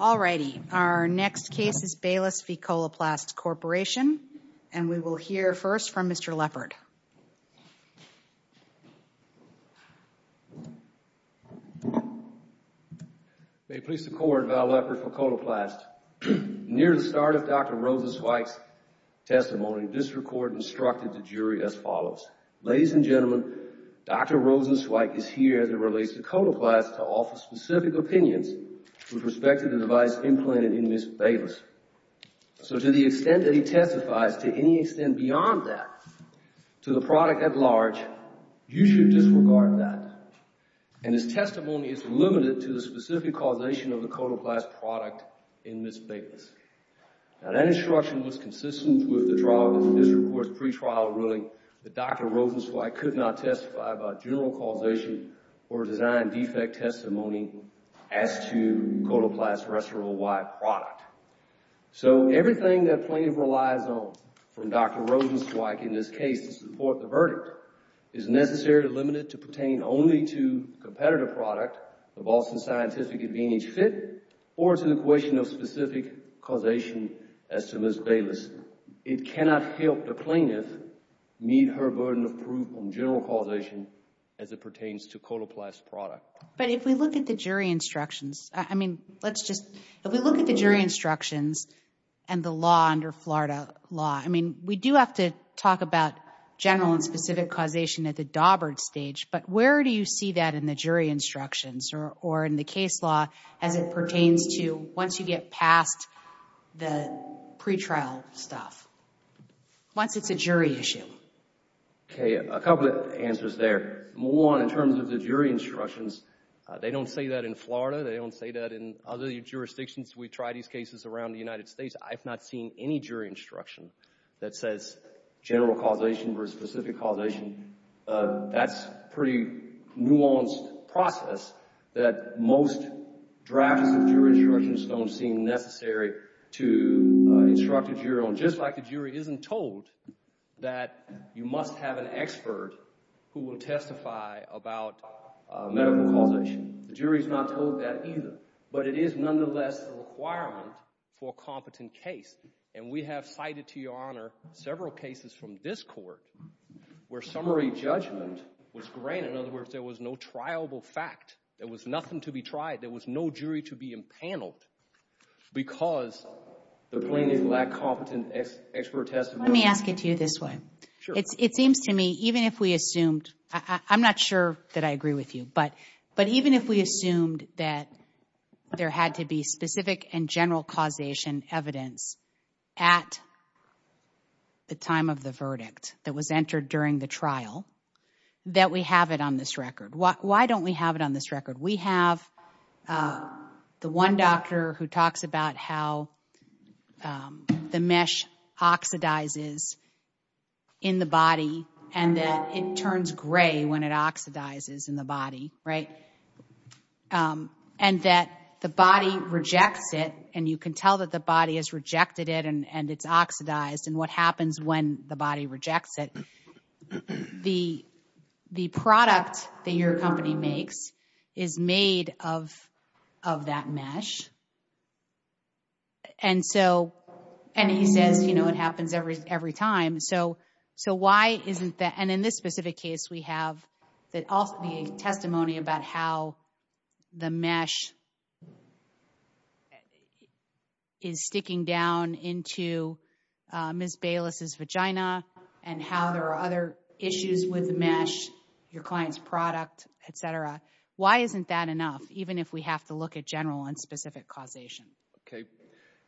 All righty, our next case is Bayless v. Coloplast Corporation, and we will hear first from Mr. Leppard. May it please the Court, Val Leppard for Coloplast. Near the start of Dr. Rosenzweig's testimony, District Court instructed the jury as follows. Ladies and gentlemen, Dr. Rosenzweig is here as it relates to Coloplast to offer specific opinions with respect to the device implanted in Ms. Bayless. So to the extent that he testifies, to any extent beyond that, to the product at large, you should disregard that. And his testimony is limited to the specific causation of the Coloplast product in Ms. Bayless. Now, that instruction was consistent with the trial of the District Court's pretrial ruling that Dr. Rosenzweig could not testify about general causation or design defect testimony as to Coloplast's rest of the wide product. So everything that plaintiff relies on from Dr. Rosenzweig in this case to support the verdict is necessarily limited to pertain only to competitive product, the Boston Scientific Advantage Fit, or to the question of specific causation as to Ms. Bayless. It cannot help the plaintiff meet her burden of proof on general causation as it pertains to Coloplast's product. But if we look at the jury instructions, I mean, let's just, if we look at the jury instructions and the law under Florida law, I mean, we do have to talk about general and specific causation at the Daubert stage. But where do you see that in the jury instructions or in the case law as it pertains to once you get past the pretrial stuff, once it's a jury issue? Okay, a couple of answers there. One, in terms of the jury instructions, they don't say that in Florida. They don't say that in other jurisdictions. We try these cases around the United States. I've not seen any jury instruction that says general causation versus specific causation. That's a pretty nuanced process that most drafters of jury instructions don't seem necessary to instruct a jury on. Just like the jury isn't told that you must have an expert who will testify about medical causation. The jury is not told that either. But it is nonetheless a requirement for a competent case. And we have cited, to your honor, several cases from this court where summary judgment was granted. In other words, there was no triable fact. There was nothing to be tried. There was no jury to be impaneled because the plaintiff lacked competent expert testimony. Let me ask it to you this way. Sure. It seems to me, even if we assumed, I'm not sure that I agree with you, but even if we assumed that there had to be specific and general causation evidence at the time of the verdict that was entered during the trial, that we have it on this record. Why don't we have it on this record? We have the one doctor who talks about how the mesh oxidizes in the body and that it turns gray when it oxidizes in the body, right? And that the body rejects it, and you can tell that the body has rejected it and it's oxidized. And what happens when the body rejects it? The product that your company makes is made of that mesh. And he says, you know, it happens every time. So, why isn't that? And in this specific case, we have the testimony about how the mesh is sticking down into Ms. Bayless' vagina and how there are other issues with the mesh, your client's product, et cetera. Why isn't that enough, even if we have to look at general and specific causation? Okay.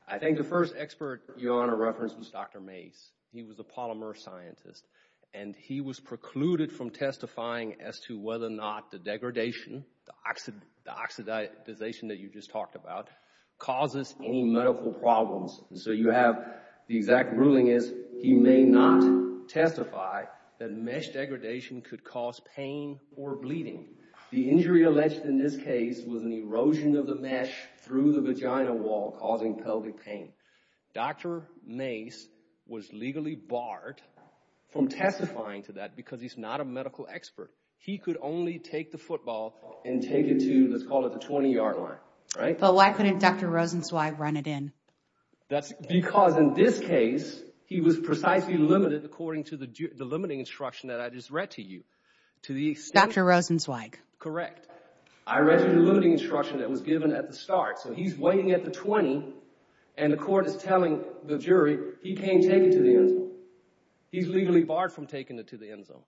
I think the first expert Your Honor referenced was Dr. Mase. He was a polymer scientist. And he was precluded from testifying as to whether or not the degradation, the oxidization that you just talked about, causes any medical problems. And so you have the exact ruling is he may not testify that mesh degradation could cause pain or bleeding. The injury alleged in this case was an erosion of the mesh through the vagina wall causing pelvic pain. Dr. Mase was legally barred from testifying to that because he's not a medical expert. He could only take the football and take it to, let's call it the 20-yard line, right? But why couldn't Dr. Rosenzweig run it in? Because in this case, he was precisely limited according to the limiting instruction that I just read to you. Dr. Rosenzweig. Correct. I read the limiting instruction that was given at the start. So he's waiting at the 20, and the court is telling the jury he can't take it to the end zone. He's legally barred from taking it to the end zone.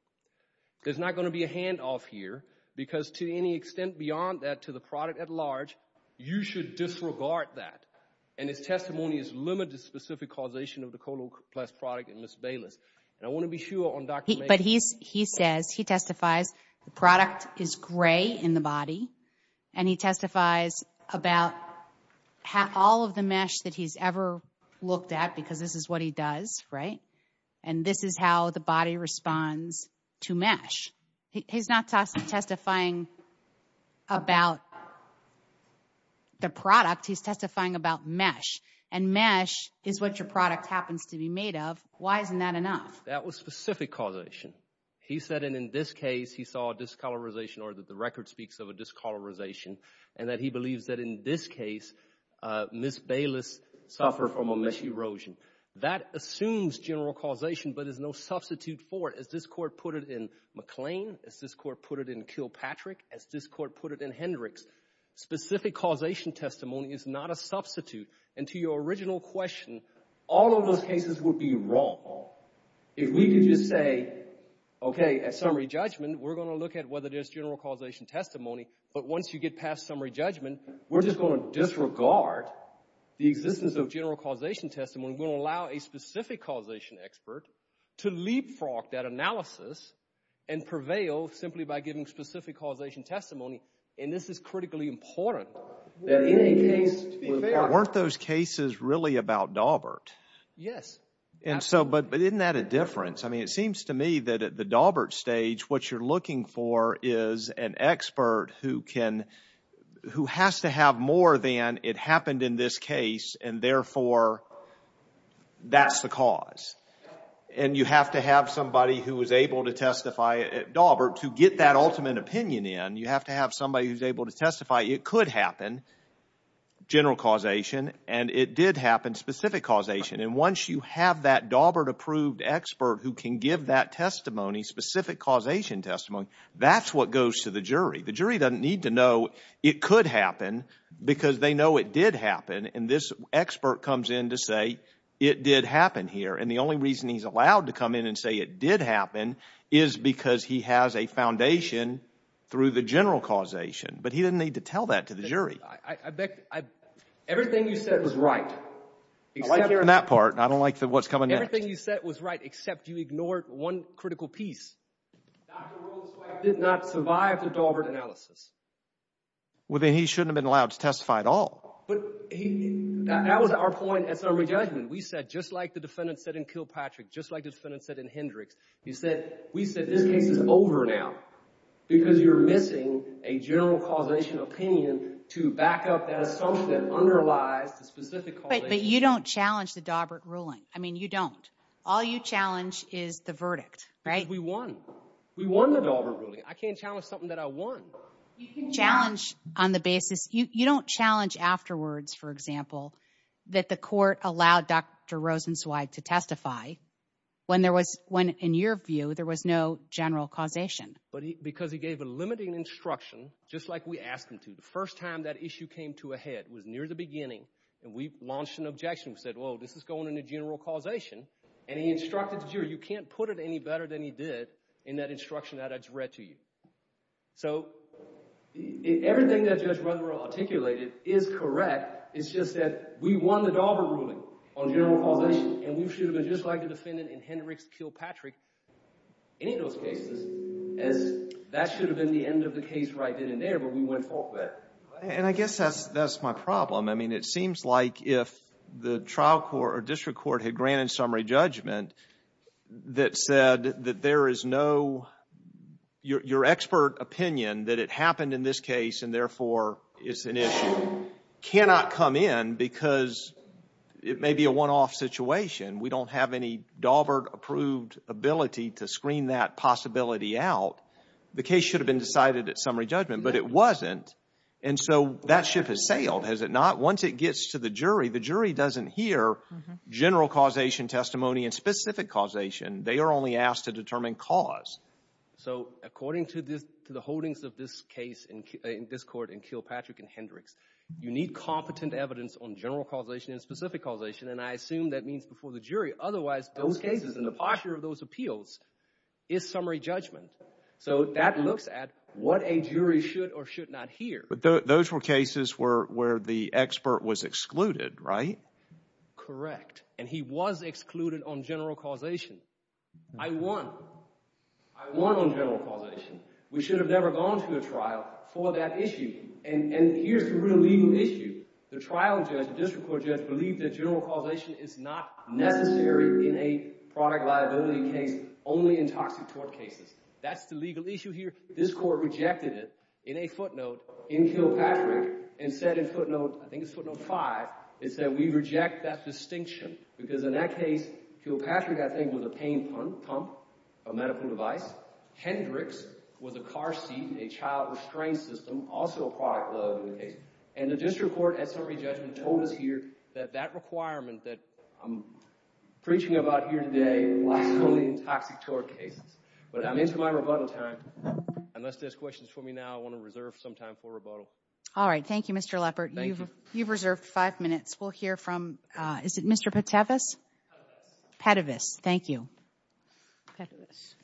There's not going to be a handoff here because to any extent beyond that to the product at large, you should disregard that. And his testimony is limited to specific causation of the coloplast product in Ms. Bayless. And I want to be sure on Dr. Mase. But he says, he testifies, the product is gray in the body, and he testifies about all of the mesh that he's ever looked at because this is what he does, right? And this is how the body responds to mesh. He's not testifying about the product. He's testifying about mesh. And mesh is what your product happens to be made of. Why isn't that enough? That was specific causation. He said in this case he saw a discolorization, or that the record speaks of a discolorization, and that he believes that in this case Ms. Bayless suffered from a mesh erosion. That assumes general causation but is no substitute for it. As this court put it in McLean, as this court put it in Kilpatrick, as this court put it in Hendricks, specific causation testimony is not a substitute. And to your original question, all of those cases would be wrong. If we could just say, okay, at summary judgment we're going to look at whether there's general causation testimony, but once you get past summary judgment we're just going to disregard the existence of general causation testimony. We're going to allow a specific causation expert to leapfrog that analysis and prevail simply by giving specific causation testimony. And this is critically important. Weren't those cases really about Daubert? Yes. But isn't that a difference? I mean it seems to me that at the Daubert stage what you're looking for is an expert who can, who has to have more than it happened in this case and therefore that's the cause. And you have to have somebody who is able to testify at Daubert to get that ultimate opinion in. You have to have somebody who's able to testify it could happen, general causation, and it did happen, specific causation. And once you have that Daubert approved expert who can give that testimony, specific causation testimony, that's what goes to the jury. The jury doesn't need to know it could happen because they know it did happen. And this expert comes in to say it did happen here. And the only reason he's allowed to come in and say it did happen is because he has a foundation through the general causation. But he doesn't need to tell that to the jury. Everything you said was right. I like hearing that part. I don't like what's coming next. Everything you said was right except you ignored one critical piece. Dr. Rollins-White did not survive the Daubert analysis. Well, then he shouldn't have been allowed to testify at all. That was our point at summary judgment. We said, just like the defendant said in Kilpatrick, just like the defendant said in Hendricks, we said this case is over now because you're missing a general causation opinion to back up that assumption that underlies the specific causation. But you don't challenge the Daubert ruling. I mean, you don't. All you challenge is the verdict, right? We won. We won the Daubert ruling. I can't challenge something that I won. You can challenge on the basis. You don't challenge afterwards, for example, that the court allowed Dr. Rosenzweig to testify when, in your view, there was no general causation. Because he gave a limiting instruction, just like we asked him to. The first time that issue came to a head was near the beginning, and we launched an objection. We said, well, this is going into general causation, and he instructed the jury, you can't put it any better than he did in that instruction that I just read to you. So everything that Judge Rutherford articulated is correct. It's just that we won the Daubert ruling on general causation, and we should have been just like the defendant in Hendricks killed Patrick. Any of those cases, that should have been the end of the case right then and there, but we went forth with it. And I guess that's my problem. I mean, it seems like if the trial court or district court had granted summary judgment that said that there is no, your expert opinion that it happened in this case and therefore it's an issue cannot come in because it may be a one-off situation. We don't have any Daubert-approved ability to screen that possibility out. The case should have been decided at summary judgment, but it wasn't. And so that ship has sailed, has it not? But once it gets to the jury, the jury doesn't hear general causation testimony and specific causation. They are only asked to determine cause. So according to the holdings of this case in this court and kill Patrick in Hendricks, you need competent evidence on general causation and specific causation, and I assume that means before the jury. Otherwise, those cases and the posture of those appeals is summary judgment. So that looks at what a jury should or should not hear. But those were cases where the expert was excluded, right? Correct. And he was excluded on general causation. I won. I won on general causation. We should have never gone to a trial for that issue. And here's the real legal issue. The trial judge, the district court judge, believed that general causation is not necessary in a product liability case, only in toxic tort cases. That's the legal issue here. This court rejected it in a footnote in kill Patrick and said in footnote, I think it's footnote five, it said we reject that distinction because in that case kill Patrick, I think, was a pain pump, a medical device. Hendricks was a car seat, a child restraint system, also a product liability case. And the district court at summary judgment told us here that that requirement that I'm preaching about here today lies fully in toxic tort cases. But I'm into my rebuttal time. Unless there's questions for me now, I want to reserve some time for rebuttal. All right. Thank you, Mr. Leppert. Thank you. You've reserved five minutes. We'll hear from, is it Mr. Petavis? Petavis. Petavis. Thank you. Petavis.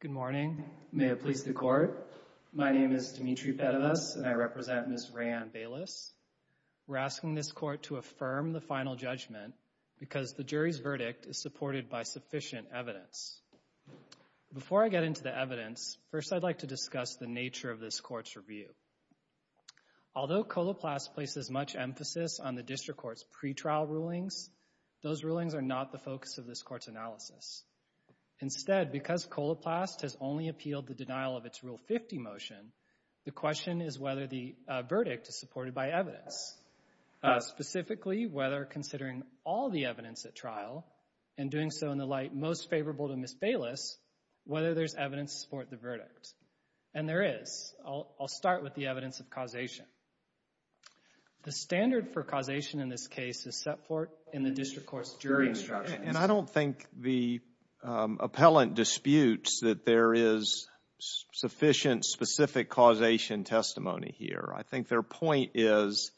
Good morning. May it please the court. My name is Dimitri Petavis, and I represent Ms. Raeann Bayliss. We're asking this court to affirm the final judgment because the jury's verdict is supported by sufficient evidence. Before I get into the evidence, first I'd like to discuss the nature of this court's review. Although Coloplast places much emphasis on the district court's pretrial rulings, those rulings are not the focus of this court's analysis. Instead, because Coloplast has only appealed the denial of its Rule 50 motion, the question is whether the verdict is supported by evidence. Specifically, whether considering all the evidence at trial and doing so in the light most favorable to Ms. Bayliss, whether there's evidence to support the verdict. And there is. I'll start with the evidence of causation. The standard for causation in this case is set forth in the district court's jury instructions. And I don't think the appellant disputes that there is sufficient specific causation testimony here. I think their point is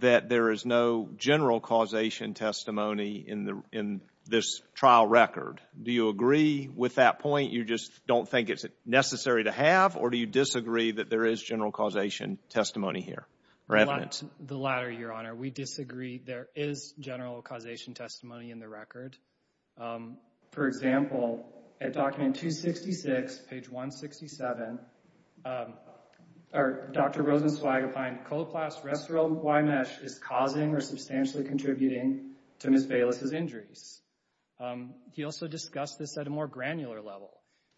that there is no general causation testimony in this trial record. Do you agree with that point? You just don't think it's necessary to have? Or do you disagree that there is general causation testimony here? The latter, Your Honor. Your Honor, we disagree. There is general causation testimony in the record. For example, at document 266, page 167, Dr. Rosenzweig opined, Coloplast Restyl Y-Mesh is causing or substantially contributing to Ms. Bayliss' injuries. He also discussed this at a more granular level.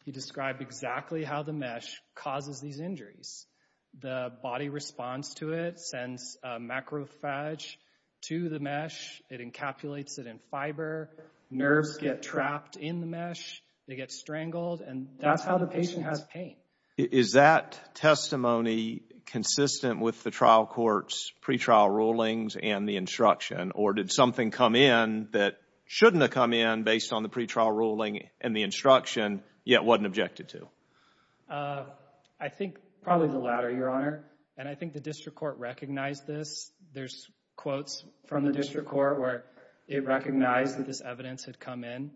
He described exactly how the mesh causes these injuries. The body responds to it, sends macrophage to the mesh. It encapsulates it in fiber. Nerves get trapped in the mesh. They get strangled. And that's how the patient has pain. Is that testimony consistent with the trial court's pretrial rulings and the instruction? Or did something come in that shouldn't have come in based on the pretrial ruling and the instruction yet wasn't objected to? I think probably the latter, Your Honor. And I think the district court recognized this. There's quotes from the district court where it recognized that this evidence had come in.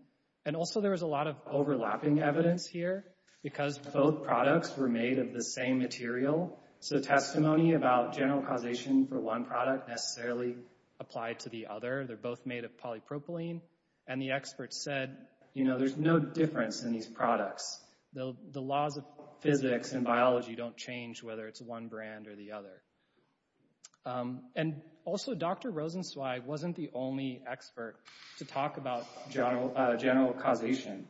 And also there was a lot of overlapping evidence here because both products were made of the same material. So testimony about general causation for one product necessarily applied to the other. They're both made of polypropylene. And the experts said, you know, there's no difference in these products. The laws of physics and biology don't change whether it's one brand or the other. And also Dr. Rosenzweig wasn't the only expert to talk about general causation.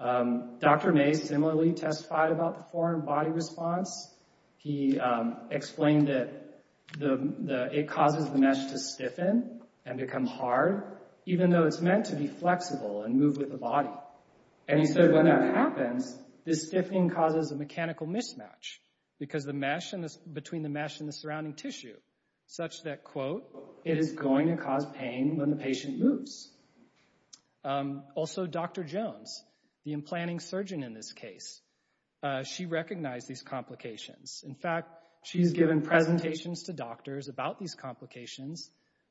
Dr. May similarly testified about the foreign body response. He explained that it causes the mesh to stiffen and become hard, even though it's meant to be flexible and move with the body. And he said when that happens, this stiffening causes a mechanical mismatch between the mesh and the surrounding tissue such that, quote, it is going to cause pain when the patient moves. Also Dr. Jones, the implanting surgeon in this case, she recognized these complications. In fact, she's given presentations to doctors about these complications.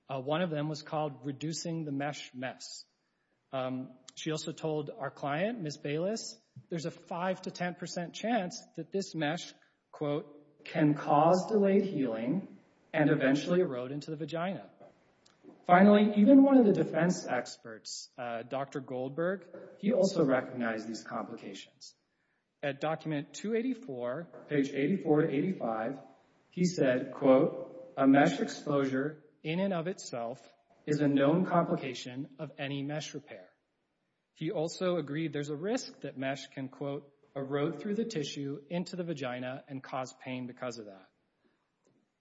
One of them was called reducing the mesh mess. She also told our client, Ms. Bayless, there's a 5% to 10% chance that this mesh, quote, can cause delayed healing and eventually erode into the vagina. Finally, even one of the defense experts, Dr. Goldberg, he also recognized these complications. At document 284, page 84 to 85, he said, quote, a mesh exposure in and of itself is a known complication of any mesh repair. He also agreed there's a risk that mesh can, quote, erode through the tissue into the vagina and cause pain because of that.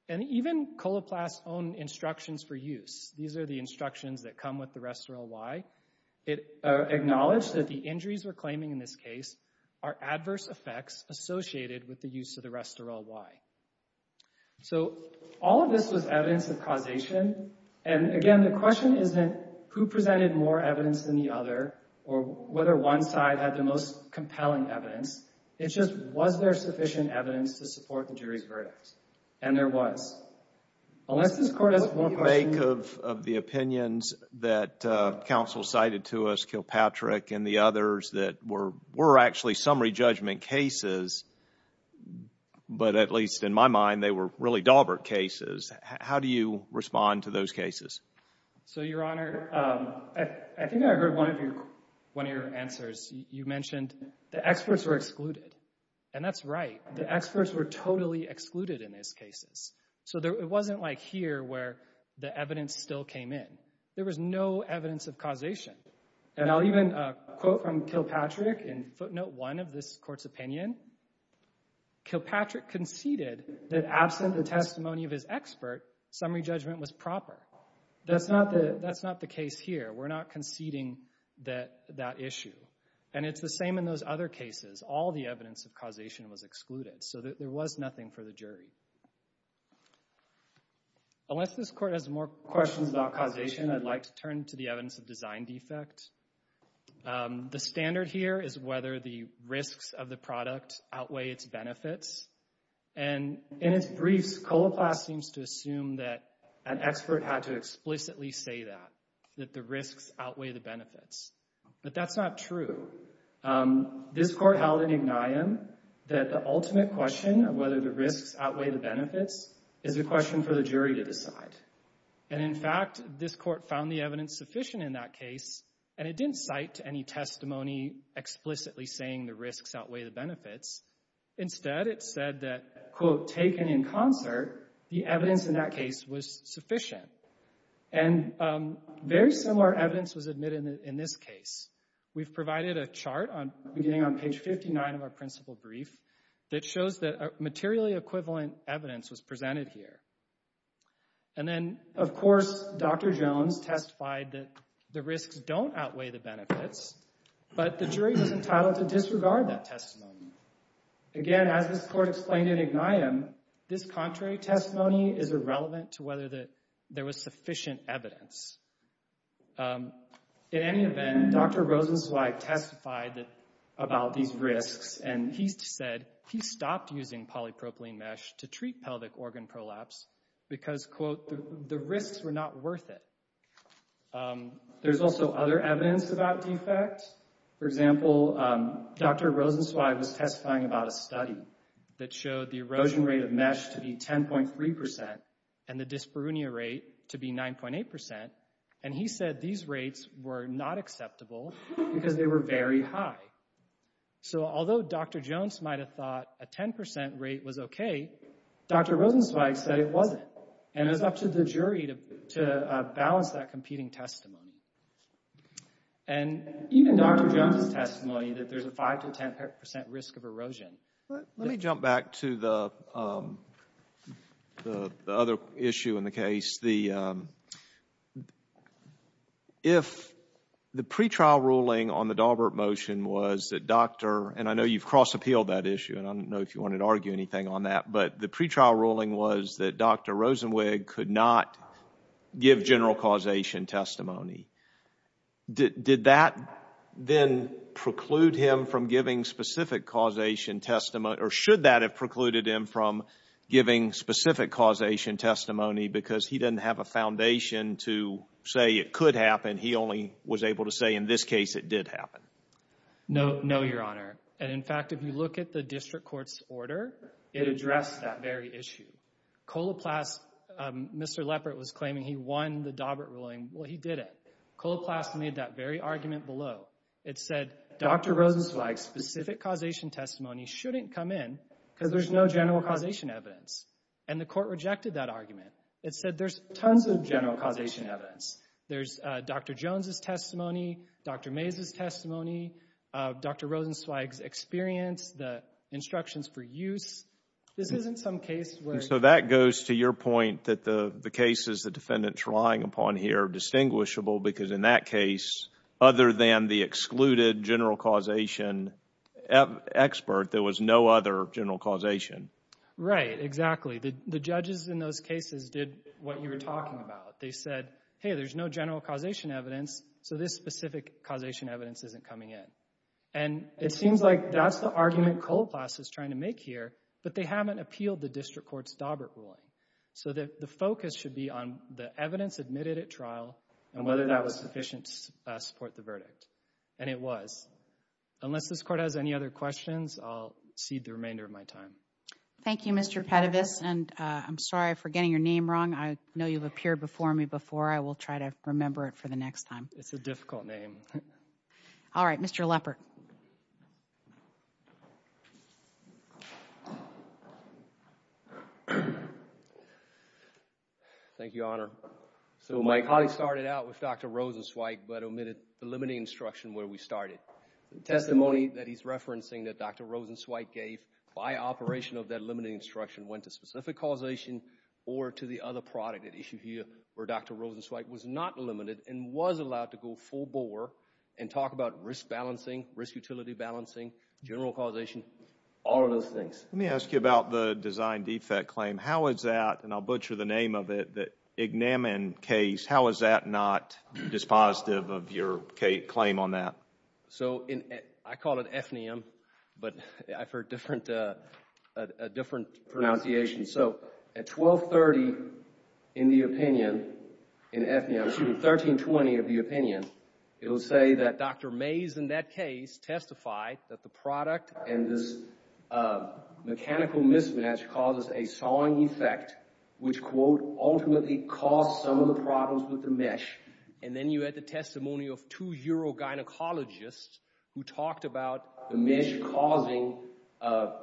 And even Coloplast's own instructions for use, these are the instructions that come with the Restorel Y, it acknowledged that the injuries we're claiming in this case are adverse effects associated with the use of the Restorel Y. So all of this was evidence of causation. And again, the question isn't who presented more evidence than the other or whether one side had the most compelling evidence. It's just was there sufficient evidence to support the jury's verdict? And there was. Unless this court has one question— What do you make of the opinions that counsel cited to us, Kilpatrick, and the others that were actually summary judgment cases, but at least in my mind, they were really Dahlberg cases. How do you respond to those cases? So, Your Honor, I think I heard one of your answers. You mentioned the experts were excluded. And that's right. The experts were totally excluded in these cases. So it wasn't like here where the evidence still came in. There was no evidence of causation. And I'll even quote from Kilpatrick in footnote one of this court's opinion. Kilpatrick conceded that absent the testimony of his expert, summary judgment was proper. That's not the case here. We're not conceding that issue. And it's the same in those other cases. All the evidence of causation was excluded. So there was nothing for the jury. Unless this court has more questions about causation, I'd like to turn to the evidence of design defect. The standard here is whether the risks of the product outweigh its benefits. And in its briefs, Coloplast seems to assume that an expert had to explicitly say that, that the risks outweigh the benefits. But that's not true. This court held in ignaeum that the ultimate question of whether the risks outweigh the benefits is a question for the jury to decide. And in fact, this court found the evidence sufficient in that case. And it didn't cite any testimony explicitly saying the risks outweigh the benefits. Instead, it said that, quote, taken in concert, the evidence in that case was sufficient. And very similar evidence was admitted in this case. We've provided a chart beginning on page 59 of our principal brief that shows that materially equivalent evidence was presented here. And then, of course, Dr. Jones testified that the risks don't outweigh the benefits, but the jury was entitled to disregard that testimony. Again, as this court explained in ignaeum, this contrary testimony is irrelevant to whether there was sufficient evidence. In any event, Dr. Rosenzweig testified about these risks, and he said he stopped using polypropylene mesh to treat pelvic organ prolapse because, quote, the risks were not worth it. There's also other evidence about defects. For example, Dr. Rosenzweig was testifying about a study that showed the erosion rate of mesh to be 10.3% and the dyspareunia rate to be 9.8%. And he said these rates were not acceptable because they were very high. So although Dr. Jones might have thought a 10% rate was okay, Dr. Rosenzweig said it wasn't, and it was up to the jury to balance that competing testimony. And even Dr. Jones' testimony that there's a 5% to 10% risk of erosion. Let me jump back to the other issue in the case. The pre-trial ruling on the Daubert motion was that Dr. And I know you've cross-appealed that issue, and I don't know if you wanted to argue anything on that, but the pre-trial ruling was that Dr. Rosenzweig could not give general causation testimony. Did that then preclude him from giving specific causation testimony, or should that have precluded him from giving specific causation testimony because he doesn't have a foundation to say it could happen, he only was able to say in this case it did happen? No, Your Honor. And in fact, if you look at the district court's order, it addressed that very issue. Coloplast, Mr. Leppert was claiming he won the Daubert ruling. Well, he didn't. Coloplast made that very argument below. It said Dr. Rosenzweig's specific causation testimony shouldn't come in because there's no general causation evidence. And the court rejected that argument. It said there's tons of general causation evidence. There's Dr. Jones' testimony, Dr. Mays' testimony, Dr. Rosenzweig's experience, the instructions for use. This isn't some case where— So that goes to your point that the cases the defendant's relying upon here are distinguishable because in that case, other than the excluded general causation expert, there was no other general causation. Right, exactly. The judges in those cases did what you were talking about. They said, hey, there's no general causation evidence, so this specific causation evidence isn't coming in. And it seems like that's the argument Coloplast is trying to make here, but they haven't appealed the district court's Daubert ruling. So the focus should be on the evidence admitted at trial and whether that was sufficient to support the verdict. And it was. Unless this court has any other questions, I'll cede the remainder of my time. Thank you, Mr. Petivus, and I'm sorry for getting your name wrong. I know you've appeared before me before. I will try to remember it for the next time. It's a difficult name. All right, Mr. Lepper. Thank you, Honor. So my colleague started out with Dr. Rosenzweig but omitted the limiting instruction where we started. The testimony that he's referencing that Dr. Rosenzweig gave by operation of that limiting instruction went to specific causation or to the other product at issue here where Dr. Rosenzweig was not limited and was allowed to go full bore and talk about risk balancing, risk utility balancing, general causation, all of those things. Let me ask you about the design defect claim. How is that, and I'll butcher the name of it, the ignamin case, how is that not dispositive of your claim on that? So I call it FNAM, but I've heard a different pronunciation. So at 1230 in the opinion, in FNAM, excuse me, 1320 of the opinion, it will say that Dr. Mays in that case testified that the product and this mechanical mismatch causes a sawing effect which, quote, ultimately caused some of the problems with the mesh. And then you had the testimony of two urogynecologists who talked about the mesh causing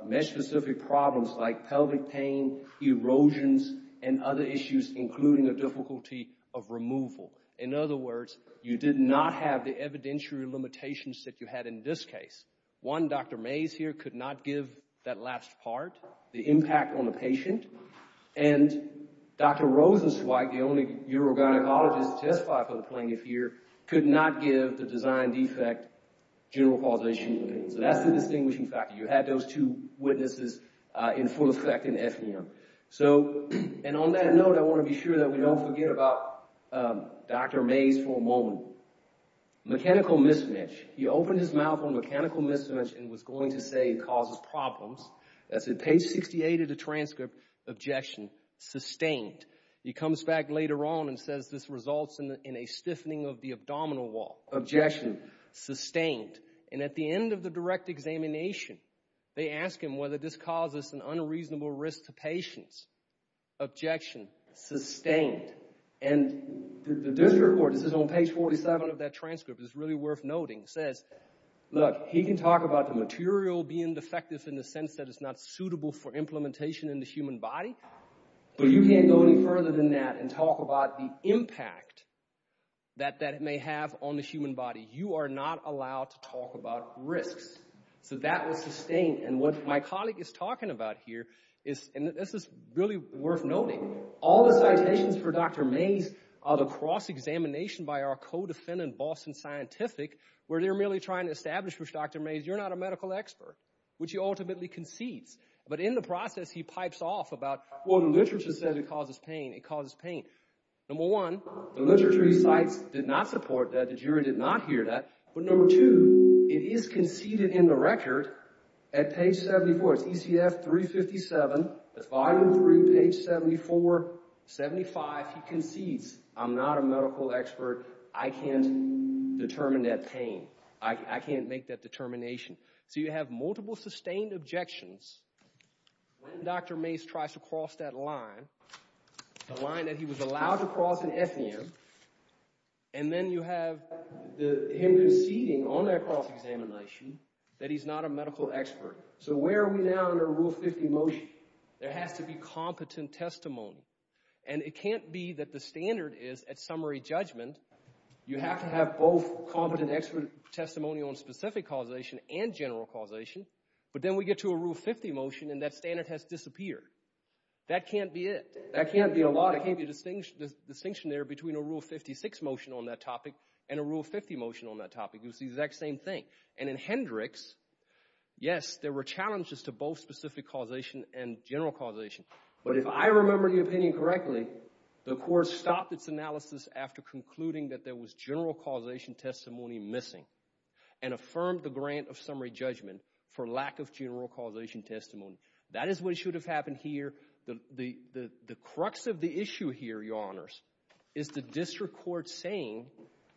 mesh-specific problems like pelvic pain, erosions, and other issues including the difficulty of removal. In other words, you did not have the evidentiary limitations that you had in this case. One, Dr. Mays here could not give that last part, the impact on the patient, and Dr. Rosenzweig, the only urogynecologist to testify for the plaintiff here, could not give the design defect general causation opinion. So that's the distinguishing factor. You had those two witnesses in full effect in FNAM. So, and on that note, I want to be sure that we don't forget about Dr. Mays for a moment. Mechanical mismatch. He opened his mouth on mechanical mismatch and was going to say it causes problems. I said, page 68 of the transcript, objection sustained. He comes back later on and says this results in a stiffening of the abdominal wall. Objection sustained. And at the end of the direct examination, they ask him whether this causes an unreasonable risk to patients. Objection sustained. And the district court, this is on page 47 of that transcript, is really worth noting, says, look, he can talk about the material being defective in the sense that it's not suitable for implementation in the human body. But you can't go any further than that and talk about the impact that that may have on the human body. You are not allowed to talk about risks. So that was sustained. And what my colleague is talking about here is, and this is really worth noting, all the citations for Dr. Mays are the cross-examination by our co-defendant, Boston Scientific, where they're merely trying to establish with Dr. Mays, you're not a medical expert, which he ultimately concedes. But in the process, he pipes off about, well, the literature says it causes pain. It causes pain. Number one, the literature he cites did not support that. The jury did not hear that. But number two, it is conceded in the record at page 74. It's ECF 357. That's volume three, page 74, 75. He concedes, I'm not a medical expert. I can't determine that pain. I can't make that determination. So you have multiple sustained objections. When Dr. Mays tries to cross that line, the line that he was allowed to cross in FEM, and then you have him conceding on that cross-examination that he's not a medical expert. So where are we now under Rule 50 motion? There has to be competent testimony. And it can't be that the standard is, at summary judgment, you have to have both competent expert testimony on specific causation and general causation. But then we get to a Rule 50 motion, and that standard has disappeared. That can't be it. That can't be a lot. It can't be a distinction there between a Rule 56 motion on that topic and a Rule 50 motion on that topic. It was the exact same thing. And in Hendricks, yes, there were challenges to both specific causation and general causation. But if I remember the opinion correctly, the court stopped its analysis after concluding that there was general causation testimony missing and affirmed the grant of summary judgment for lack of general causation testimony. That is what should have happened here. The crux of the issue here, Your Honors, is the district court saying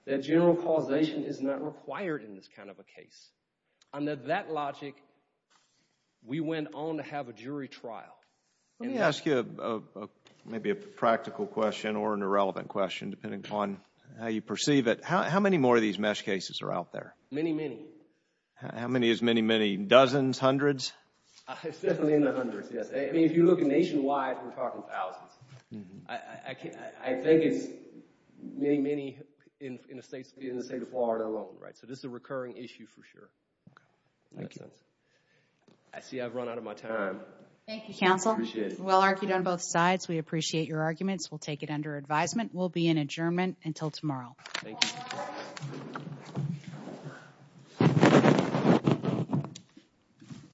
that general causation is not required in this kind of a case. Under that logic, we went on to have a jury trial. Let me ask you maybe a practical question or an irrelevant question, depending on how you perceive it. How many more of these MeSH cases are out there? Many, many. How many is many, many? Dozens? Hundreds? It's definitely in the hundreds, yes. I mean, if you look nationwide, we're talking thousands. I think it's many, many in the state of Florida alone, right? So this is a recurring issue for sure. Okay. Thank you. I see I've run out of my time. Thank you, Counsel. Appreciate it. Well argued on both sides. We appreciate your arguments. We'll take it under advisement. We'll be in adjournment until tomorrow. Thank you.